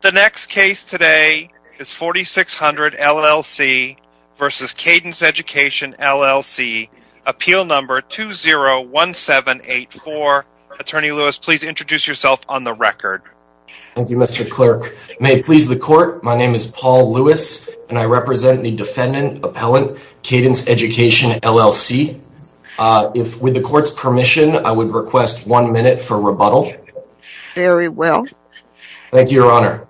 The next case today is Forty Six Hundred, LLC versus Cadence Education, LLC. Appeal number 201784. Attorney Lewis, please introduce yourself on the record. Thank you, Mr. Clerk. May it please the court, my name is Paul Lewis and I represent the defendant appellant, Cadence Education, LLC. With the court's permission, I would request one minute for rebuttal. Very well. Thank you, Your Honor.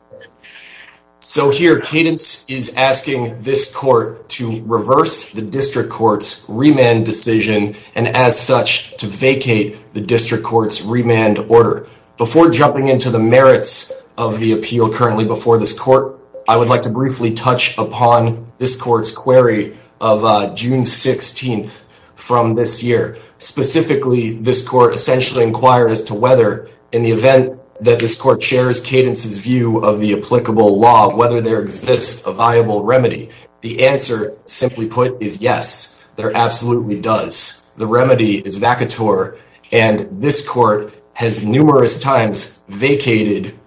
So here, Cadence is asking this court to reverse the district court's remand decision and as such to vacate the district court's remand order. Before jumping into the merits of the appeal currently before this court, I would like to briefly touch upon this court's query of June 16th from this year. Specifically, this court essentially inquired as to whether, in the event that this court shares Cadence's view of the applicable law, whether there exists a viable remedy. The answer, simply put, is yes, there absolutely does. The remedy is vacateur and this court has numerous times vacated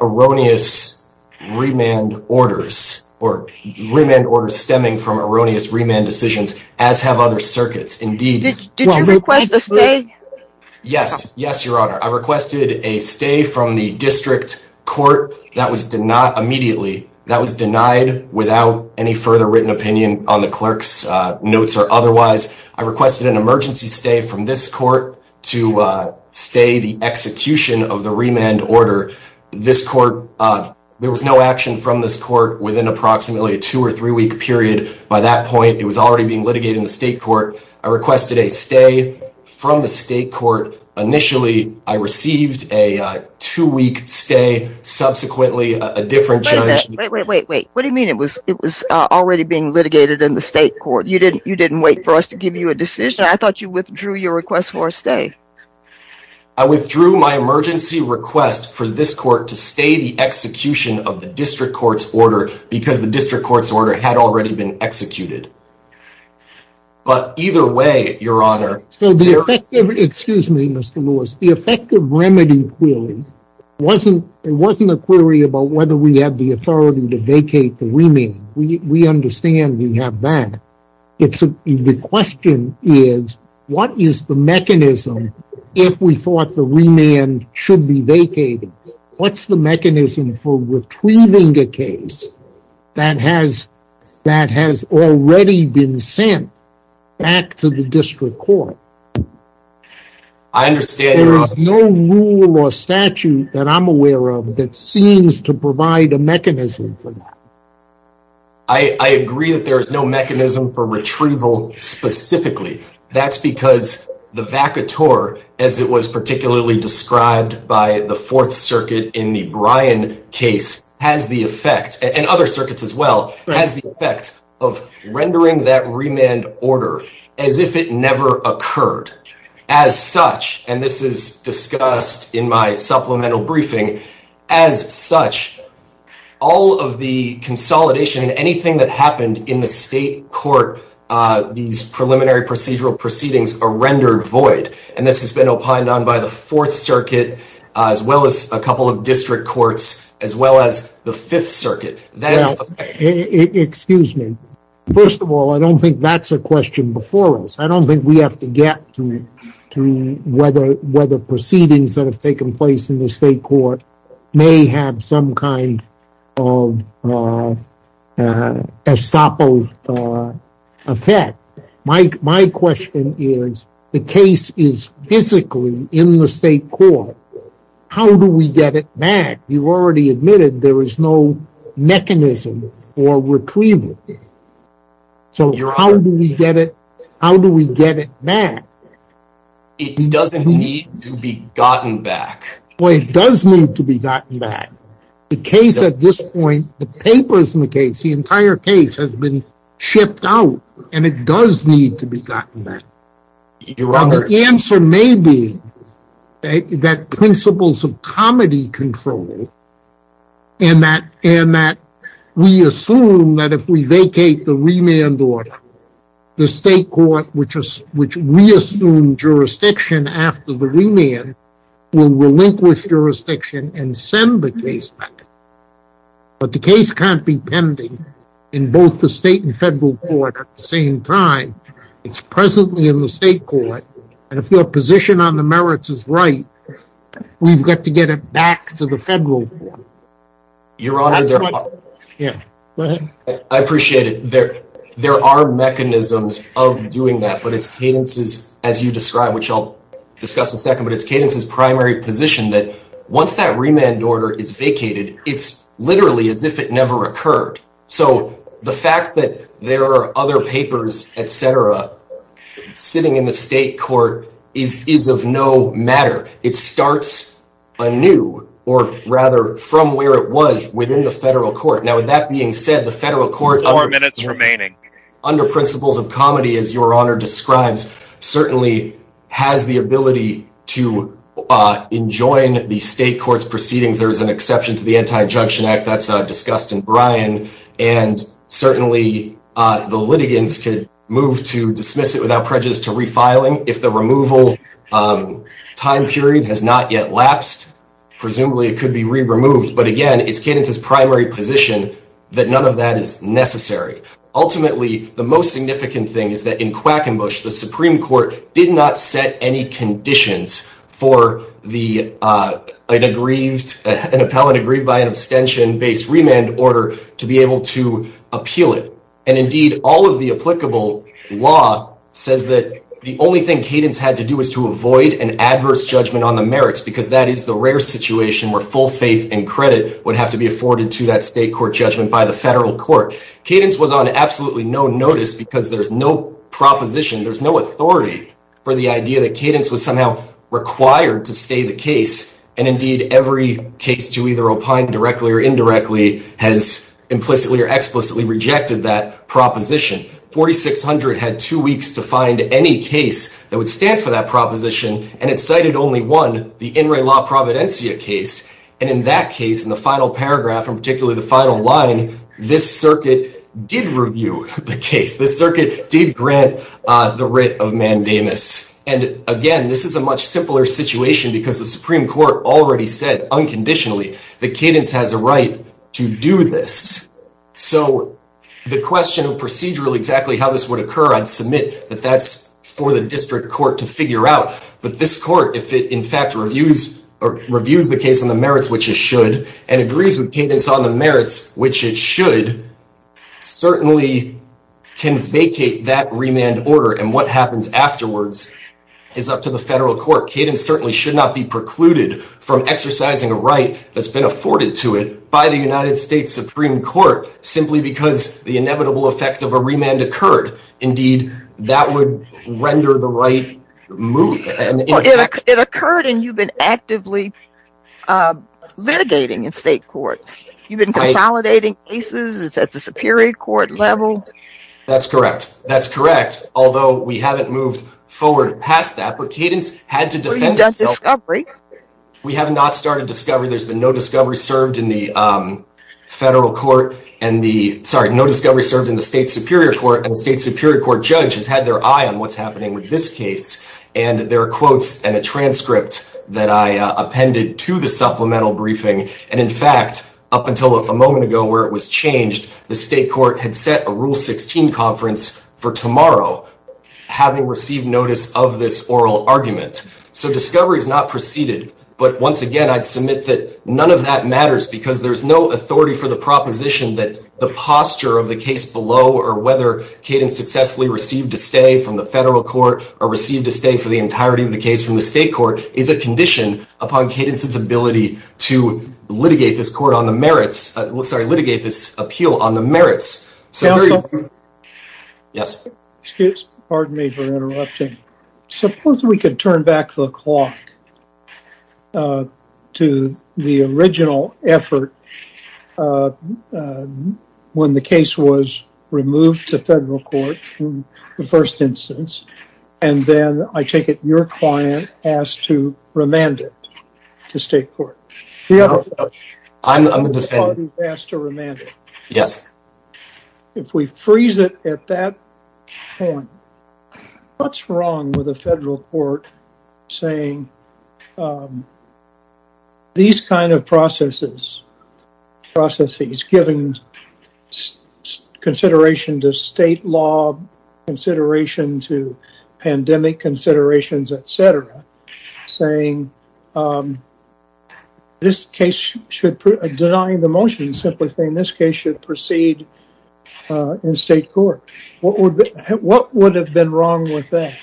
erroneous remand orders or remand orders stemming from erroneous remand decisions, as have other Yes. Yes, Your Honor. I requested a stay from the district court that was denied immediately. That was denied without any further written opinion on the clerk's notes or otherwise. I requested an emergency stay from this court to stay the execution of the remand order. This court, there was no action from this court within approximately a two or three week period. By that point, it was already being litigated in the state court. I requested a stay from the state court. Initially, I received a two week stay. Subsequently, a different judge. Wait, wait, wait, wait. What do you mean? It was it was already being litigated in the state court. You didn't you didn't wait for us to give you a decision. I thought you withdrew your request for a stay. I withdrew my emergency request for this court to stay the execution of the district court's order because the district court's order had already been executed. But either way, Your Honor. So the effective excuse me, Mr. Lewis, the effective remedy, clearly wasn't it wasn't a query about whether we have the authority to vacate the remand. We understand we have that. It's the question is what is the mechanism if we thought the remand should be vacated? What's the mechanism for retrieving a case that has that has already been sent back to the district court? I understand there is no rule or statute that I'm aware of that seems to provide a mechanism for that. I agree that there is no mechanism for retrieval specifically. That's because the vacateur, as it was particularly described by the Fourth Circuit in the Brian case, has the effect and other circuits as well, has the effect of rendering that remand order as if it never occurred. As such, and this is discussed in my supplemental briefing, as such, all of the consolidation and anything that happened in the state court, these preliminary procedural proceedings are rendered void. And this has been opined on by the Fourth Circuit, as well as a couple of district courts, as well as the Fifth First of all, I don't think that's a question before us. I don't think we have to get to whether proceedings that have taken place in the state court may have some kind of effect. My question is, the case is physically in the state court. How do we get it back? You've already admitted there is no mechanism for retrieval. So how do we get it back? It doesn't need to be gotten back. Well, it does need to be gotten back. The case at this point, the papers in the case, the entire case has been shipped out and it does need to be gotten back. Well, the answer may be that principles of comedy control and that we assume that if we vacate the remand order, the state court, which we assume jurisdiction after the remand, will relinquish jurisdiction and send the case back. But the case can't be pending in both the state and federal court at the same time. It's presently in the state court. And if your position on the merits is right, we've got to get it back to the federal court. I appreciate it. There are mechanisms of doing that, but it's cadences, as you described, which I'll discuss in a second, but it's cadences primary position that once that remand order is vacated, it's literally as if it never occurred. So the fact that there are other papers, et cetera, sitting in the state court is, is of no matter. It starts a new or rather from where it was within the federal court. Now, with that being said, the federal court, our minutes remaining under principles of comedy, as your honor describes, certainly has the ability to, uh, enjoin the state court's proceedings. There is an exception to the anti-injunction act that's, uh, discussed in Brian and certainly, uh, the litigants could move to dismiss it without prejudice to refiling. If the removal, um, time period has not yet lapsed, presumably it could be re removed, but again, it's cadences primary position that none of that is necessary. Ultimately, the most significant thing is that in Quackenbush, the Supreme court did not any conditions for the, uh, an aggrieved, an appellate agreed by an abstention based remand order to be able to appeal it. And indeed all of the applicable law says that the only thing cadence had to do was to avoid an adverse judgment on the merits, because that is the rare situation where full faith and credit would have to be afforded to that state court judgment by the federal court. Cadence was on absolutely no notice because there's no proposition. There's no authority for the idea that cadence was somehow required to stay the case. And indeed every case to either opine directly or indirectly has implicitly or explicitly rejected that proposition. 4,600 had two weeks to find any case that would stand for that proposition. And it cited only one, the in Ray law Providencia case. And in that case, in the final paragraph, and particularly the final line, this circuit did review the case. This circuit did grant the writ of mandamus. And again, this is a much simpler situation because the Supreme court already said unconditionally, the cadence has a right to do this. So the question of procedural, exactly how this would occur, I'd submit that that's for the district court to figure out. But this court, if it in fact reviews the case on the merits, which it should, and agrees with cadence on the merits, which it should, certainly can vacate that remand order. And what happens afterwards is up to the federal court. Cadence certainly should not be precluded from exercising a right that's been afforded to it by the United States Supreme court, simply because the inevitable effect of a remand occurred. Indeed, that would render the right move. It occurred and you've been actively litigating in state court. You've been consolidating cases. It's at the superior court level. That's correct. That's correct. Although we haven't moved forward past that, but cadence had to defend itself. We have not started discovery. There's been no discovery served in the federal court and the sorry, no discovery served in the state superior court judge has had their eye on what's happening with this case. And there are quotes and a transcript that I appended to the supplemental briefing. And in fact, up until a moment ago where it was changed, the state court had set a rule 16 conference for tomorrow, having received notice of this oral argument. So discovery is not preceded, but once again, I'd submit that none of that matters because there's no authority for the proposition that the posture of the case below or whether cadence successfully received a stay from the federal court or received a stay for the entirety of the case from the state court is a condition upon cadence's ability to litigate this court on the merits, sorry, litigate this appeal on the merits. Yes, pardon me for interrupting. Suppose we could turn back the clock to the original effort. When the case was removed to federal court in the first instance, and then I take it your client asked to remand it to state court. Yes. If we freeze it at that point, what's wrong with the federal court saying these kinds of processes, processes given consideration to state law, consideration to pandemic considerations, et cetera, saying this case should deny the motion simply saying this case should proceed in state court. What would have been wrong with that?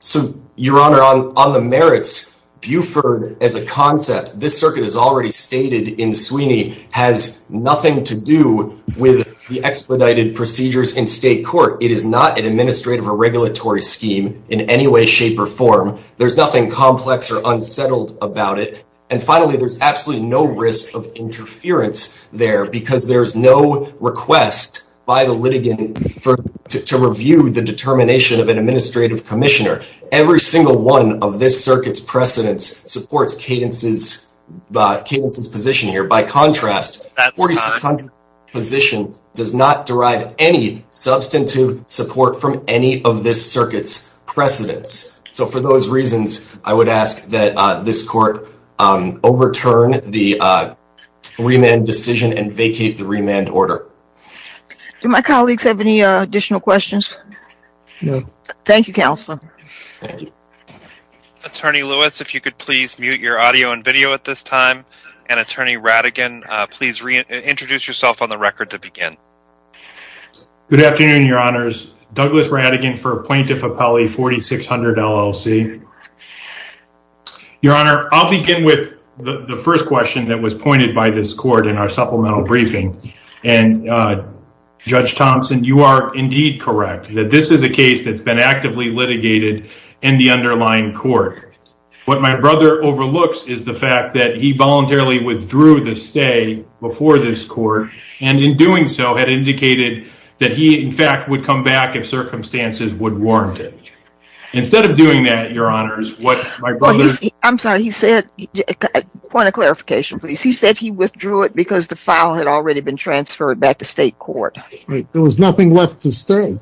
So your honor on the merits, Buford as a concept, this circuit is already stated in Sweeney has nothing to do with the expedited procedures in state court. It is not an administrative or regulatory scheme in any way, shape or form. There's nothing complex or unsettled about it. And finally, there's absolutely no risk of interference there because there's no request by the litigant to review the determination of an administrative commissioner. Every single one of this circuit's precedents supports cadence's position here. By contrast, position does not derive any substantive support from any of this circuit's precedents. So for those reasons, I would ask that this court overturn the remand decision and vacate the remand order. Do my colleagues have any additional questions? No. Thank you, counsel. Attorney Lewis, if you could please mute your audio and video at this time and attorney Radigan, please reintroduce yourself on the record to begin. Good afternoon, your honors. Douglas Radigan for plaintiff appellee 4600 LLC. Your honor, I'll begin with the first question that was pointed by this court in our supplemental briefing. And Judge Thompson, you are indeed correct that this is a case that's been actively litigated in the underlying court. What my brother overlooks is the fact that he voluntarily withdrew the stay before this court and in doing so had indicated that he in fact would come back if circumstances would warrant it. Instead of doing that, your honors, what my brother... I'm sorry, he said, point of clarification, please. He said he withdrew it because the file had already been transferred back to state court. There was nothing left to stay.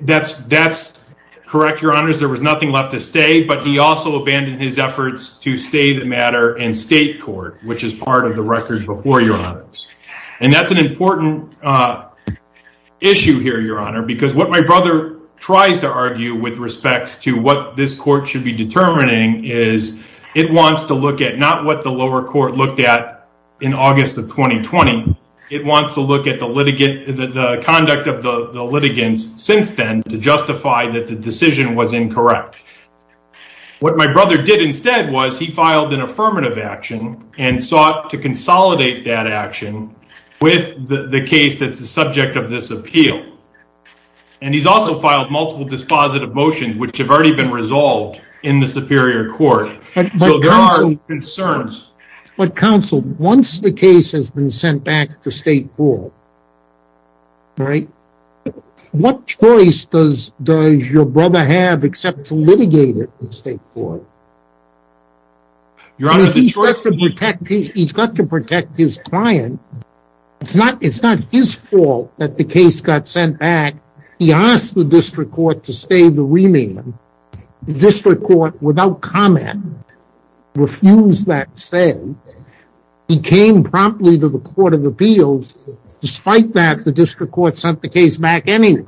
That's correct, your honors. There was nothing left to stay, but he also abandoned his efforts to stay the matter in state court, which is part of the record before your honors. And that's an important issue here, your honor, because what my brother tries to argue with respect to what this court should be determining is it wants to look at not what the lower court looked at in August of 2020. It wants to look at the conduct of the litigants since then to justify that the decision was incorrect. What my brother did instead was he filed an affirmative action and sought to consolidate that action with the case that's the subject of this appeal. And he's also filed multiple dispositive motions, which have already been resolved in the superior court. So there are concerns. But counsel, once the case has been sent back to state court, what choice does your brother have except to litigate it in state court? He's got to protect his client. It's not his fault that the case got sent back. He asked the district court to stay the remand. The district court, without comment, refused that saying he came promptly to the court of appeals. Despite that, the district court sent the case back anyway.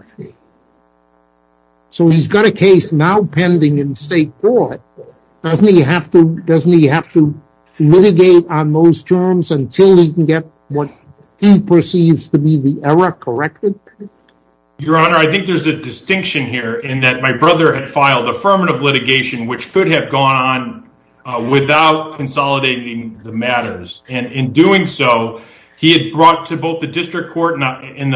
So he's got a case now pending in state court. Doesn't he have to doesn't he have to litigate on those terms until he can get what he perceives to be the error corrected? Your honor, I think there's a distinction here in that my brother had filed affirmative litigation, which could have gone on without consolidating the matters. And in doing so, he had brought to both the district court in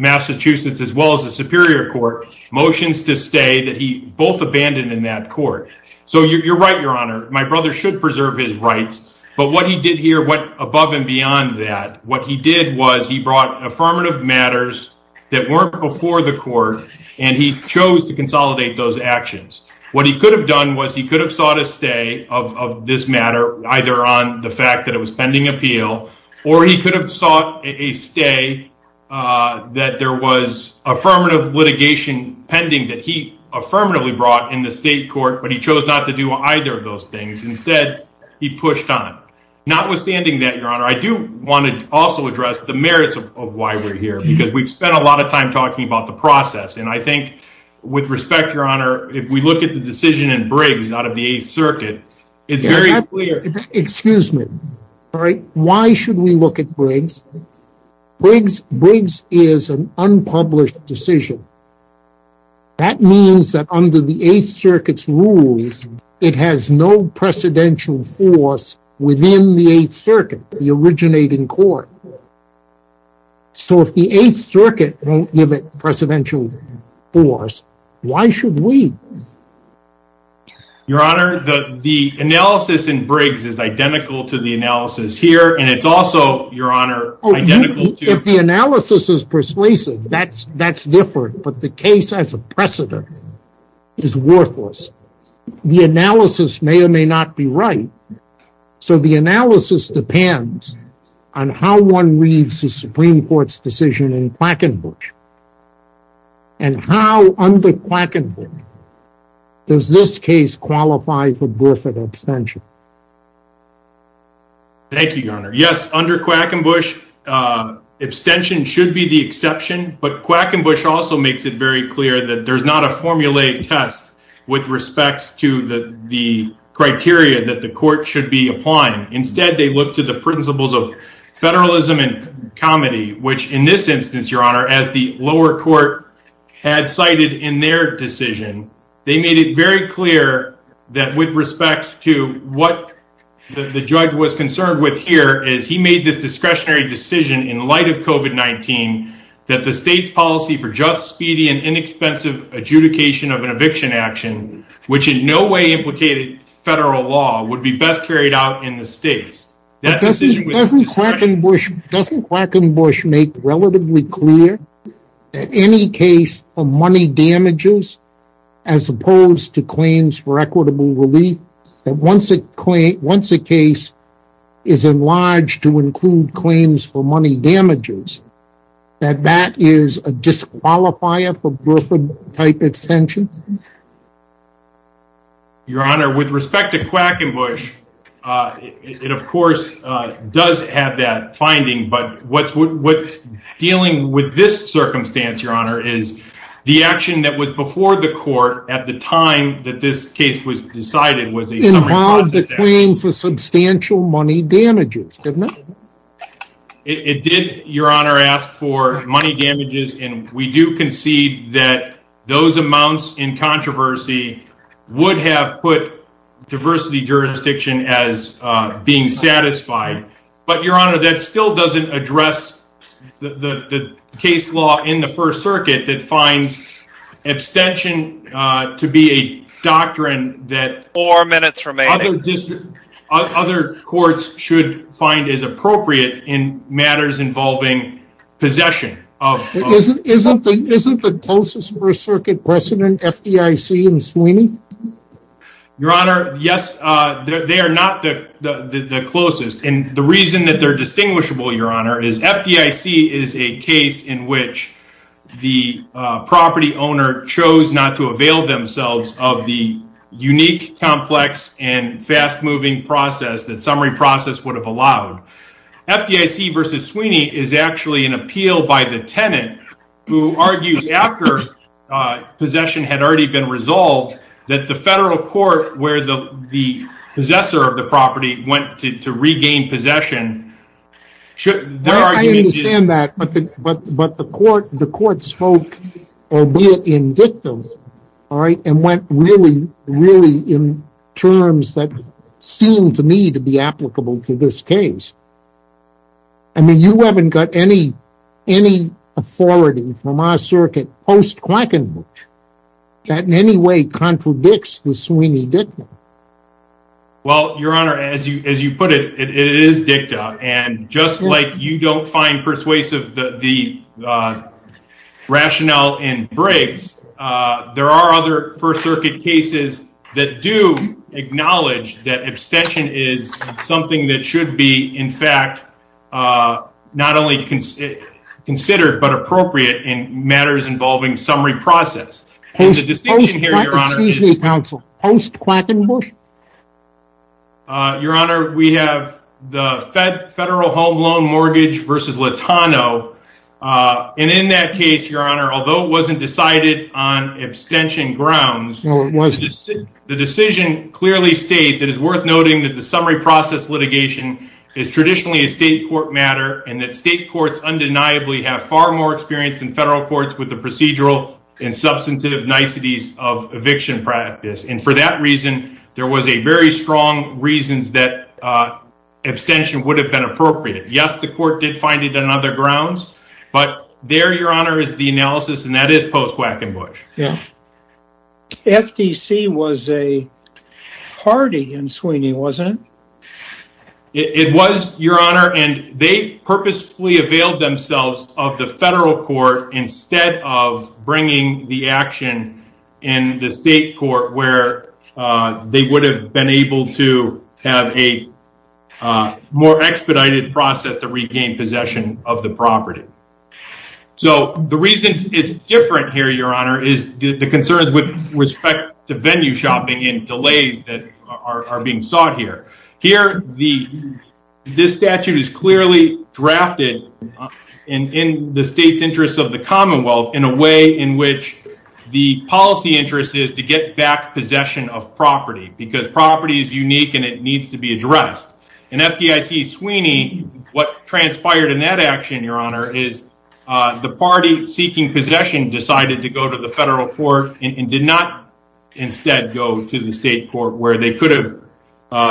Massachusetts, as well as the superior court, motions to stay that he both abandoned in that court. So you're right, your honor. My brother should preserve his rights. But what he did here went above and beyond that. What he did was he brought affirmative matters that weren't before the court, and he chose to stay those actions. What he could have done was he could have sought a stay of this matter, either on the fact that it was pending appeal, or he could have sought a stay that there was affirmative litigation pending that he affirmatively brought in the state court, but he chose not to do either of those things. Instead, he pushed on. Notwithstanding that, your honor, I do want to also address the merits of why we're here, because we've spent a lot of time talking about the process. And I think with respect, your honor, if we look at the decision in Briggs out of the Eighth Circuit, it's very clear. Excuse me. Why should we look at Briggs? Briggs is an unpublished decision. That means that under the Eighth Circuit's rules, it has no precedential force within the Eighth Circuit, the originating court. So, if the Eighth Circuit won't give it precedential force, why should we? Your honor, the analysis in Briggs is identical to the analysis here, and it's also, your honor, identical to... If the analysis is persuasive, that's different, but the case as a precedent is worthless. The analysis may or may not be right. So, the analysis depends on how one reads the Supreme Court's decision in Quackenbush. And how, under Quackenbush, does this case qualify for Griffith abstention? Thank you, your honor. Yes, under Quackenbush, abstention should be the exception, but Quackenbush also makes it very clear that there's not a formulaic test with respect to the criteria that the court should be applying. Instead, they look to the principles of federalism and comedy, which in this instance, your honor, as the lower court had cited in their decision, they made it very clear that with respect to what the judge was concerned with here, is he made this discretionary decision in light of COVID-19 that the state's policy for just, speedy, and inexpensive adjudication of an eviction action, which in no way implicated federal law, would be best carried out in the states. Doesn't Quackenbush make relatively clear that any case of money damages, as opposed to claims for equitable relief, that once a case is enlarged to include claims for money damages, that that is a disqualifier for Griffith-type extensions? Your honor, with respect to Quackenbush, it of course does have that finding, but what's dealing with this circumstance, your honor, is the action that was before the court at the time that this case was decided was a summary process action. Involved a claim for substantial money damages, didn't it? It did, your honor, ask for money damages, and we do concede that those amounts in controversy would have put diversity jurisdiction as being satisfied, but your honor, that still doesn't address the case law in the first circuit that finds abstention to be a doctrine that other courts should find as appropriate in matters involving possession. Isn't the closest first circuit precedent FDIC and Sweeney? Your honor, yes, they are not the closest, and the reason that they're distinguishable, your honor, is FDIC is a case in which the property owner chose not to avail themselves of the unique complex and fast-moving process that summary process would have allowed. FDIC versus Sweeney is actually an appeal by the tenant who argues after possession had already been resolved that the federal court where the possessor of the property went to regain possession should... I understand that, but the court spoke, albeit indictive, and went really, really in terms that seemed to me to be applicable to this case. I mean, you haven't got any authority from our circuit post-Quackenburch that in any way contradicts the Sweeney dicta. Well, your honor, as you put it, it is dicta, and just like you don't find persuasive the there are other first circuit cases that do acknowledge that abstention is something that should be, in fact, not only considered, but appropriate in matters involving summary process. Your honor, we have the federal home loan mortgage versus Latano, and in that case, your honor, although it wasn't decided on abstention grounds, the decision clearly states it is worth noting that the summary process litigation is traditionally a state court matter and that state courts undeniably have far more experience than federal courts with the procedural and substantive niceties of eviction practice, and for that reason there was a very strong reason that abstention would have been appropriate. Yes, the court did find it on other grounds, but there, your honor, is the analysis, and that is post-Quackenburch. FDC was a party in Sweeney, wasn't it? It was, your honor, and they purposefully availed themselves of the federal court instead of bringing the action in the state court where they would have been able to have a more expedited process to regain possession of the property, so the reason it's different here, your honor, is the concerns with respect to venue shopping and delays that are being sought here. Here, this statute is clearly drafted in the state's interest of the commonwealth in a way in which the policy interest is to get back possession of property because property is FDIC Sweeney. What transpired in that action, your honor, is the party seeking possession decided to go to the federal court and did not instead go to the state court where they could have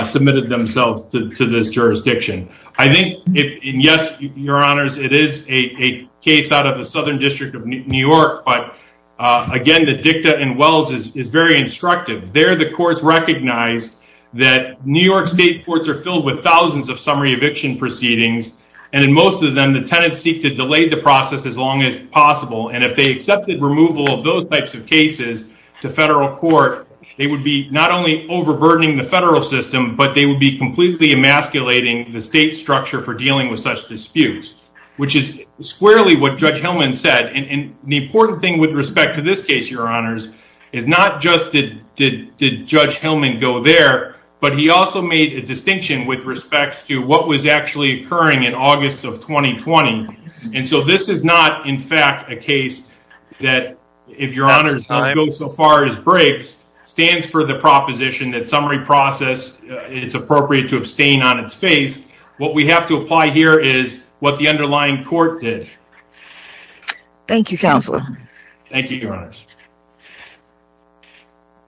submitted themselves to this jurisdiction. I think, yes, your honors, it is a case out of the Southern District of New York, but again, the dicta in Wells is very instructive. There, courts recognized that New York state courts are filled with thousands of summary eviction proceedings, and in most of them, the tenants seek to delay the process as long as possible, and if they accepted removal of those types of cases to federal court, they would be not only overburdening the federal system, but they would be completely emasculating the state structure for dealing with such disputes, which is squarely what Judge Hillman said, and the important thing with respect to this case, your honors, is not just did Judge Hillman go there, but he also made a distinction with respect to what was actually occurring in August of 2020, and so this is not, in fact, a case that, if your honors go so far as breaks, stands for the proposition that summary process, it's appropriate to abstain on its face. What we have to apply here is what the underlying court did. Thank you, Counselor. Thank you, your honors.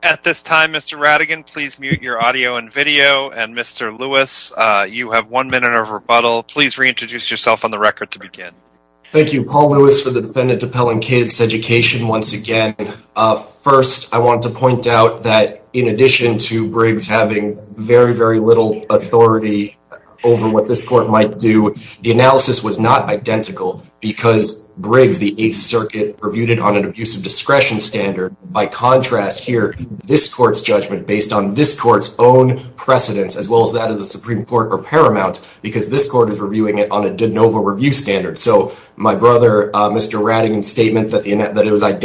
At this time, Mr. Radigan, please mute your audio and video, and Mr. Lewis, you have one minute of rebuttal. Please reintroduce yourself on the record to begin. Thank you, Paul Lewis, for the defendant to Pelham Kidd's education once again. First, I want to point out that in addition to Briggs having very, very little authority over what this court might do, the analysis was not identical because Briggs, the Eighth Circuit, reviewed it on an abusive discretion standard. By contrast here, this court's judgment based on this court's own precedence, as well as that of the Supreme Court or Paramount, because this court is reviewing it on a de novo review standard, so my brother, Mr. Radigan's statement that it was in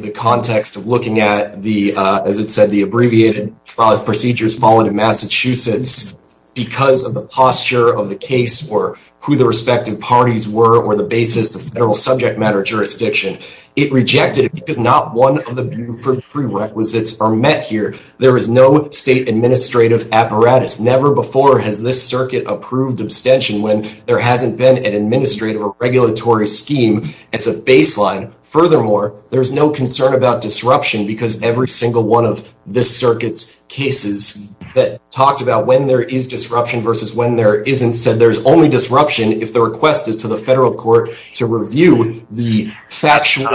the context of looking at the, as it said, the abbreviated procedures falling in Massachusetts because of the posture of the case or who the respective parties were or the basis of federal subject matter jurisdiction. It rejected it because not one of the prerequisites are met here. There is no state administrative apparatus. Never before has this circuit approved abstention when there hasn't been an administrative or regulatory scheme as a baseline. Furthermore, there's no concern about disruption because every single one of this circuit's cases that talked about when there is disruption versus when there isn't said there's only disruption if the request is to the federal court to review the factual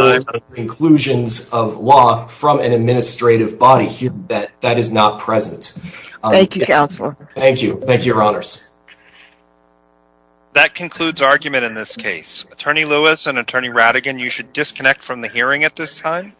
conclusions of law from an administrative body. That is not present. Thank you, Counselor. Thank you. Thank you, Your Honors. That concludes argument in this case. Attorney Lewis and Attorney Radigan, you should disconnect from the hearing at this time.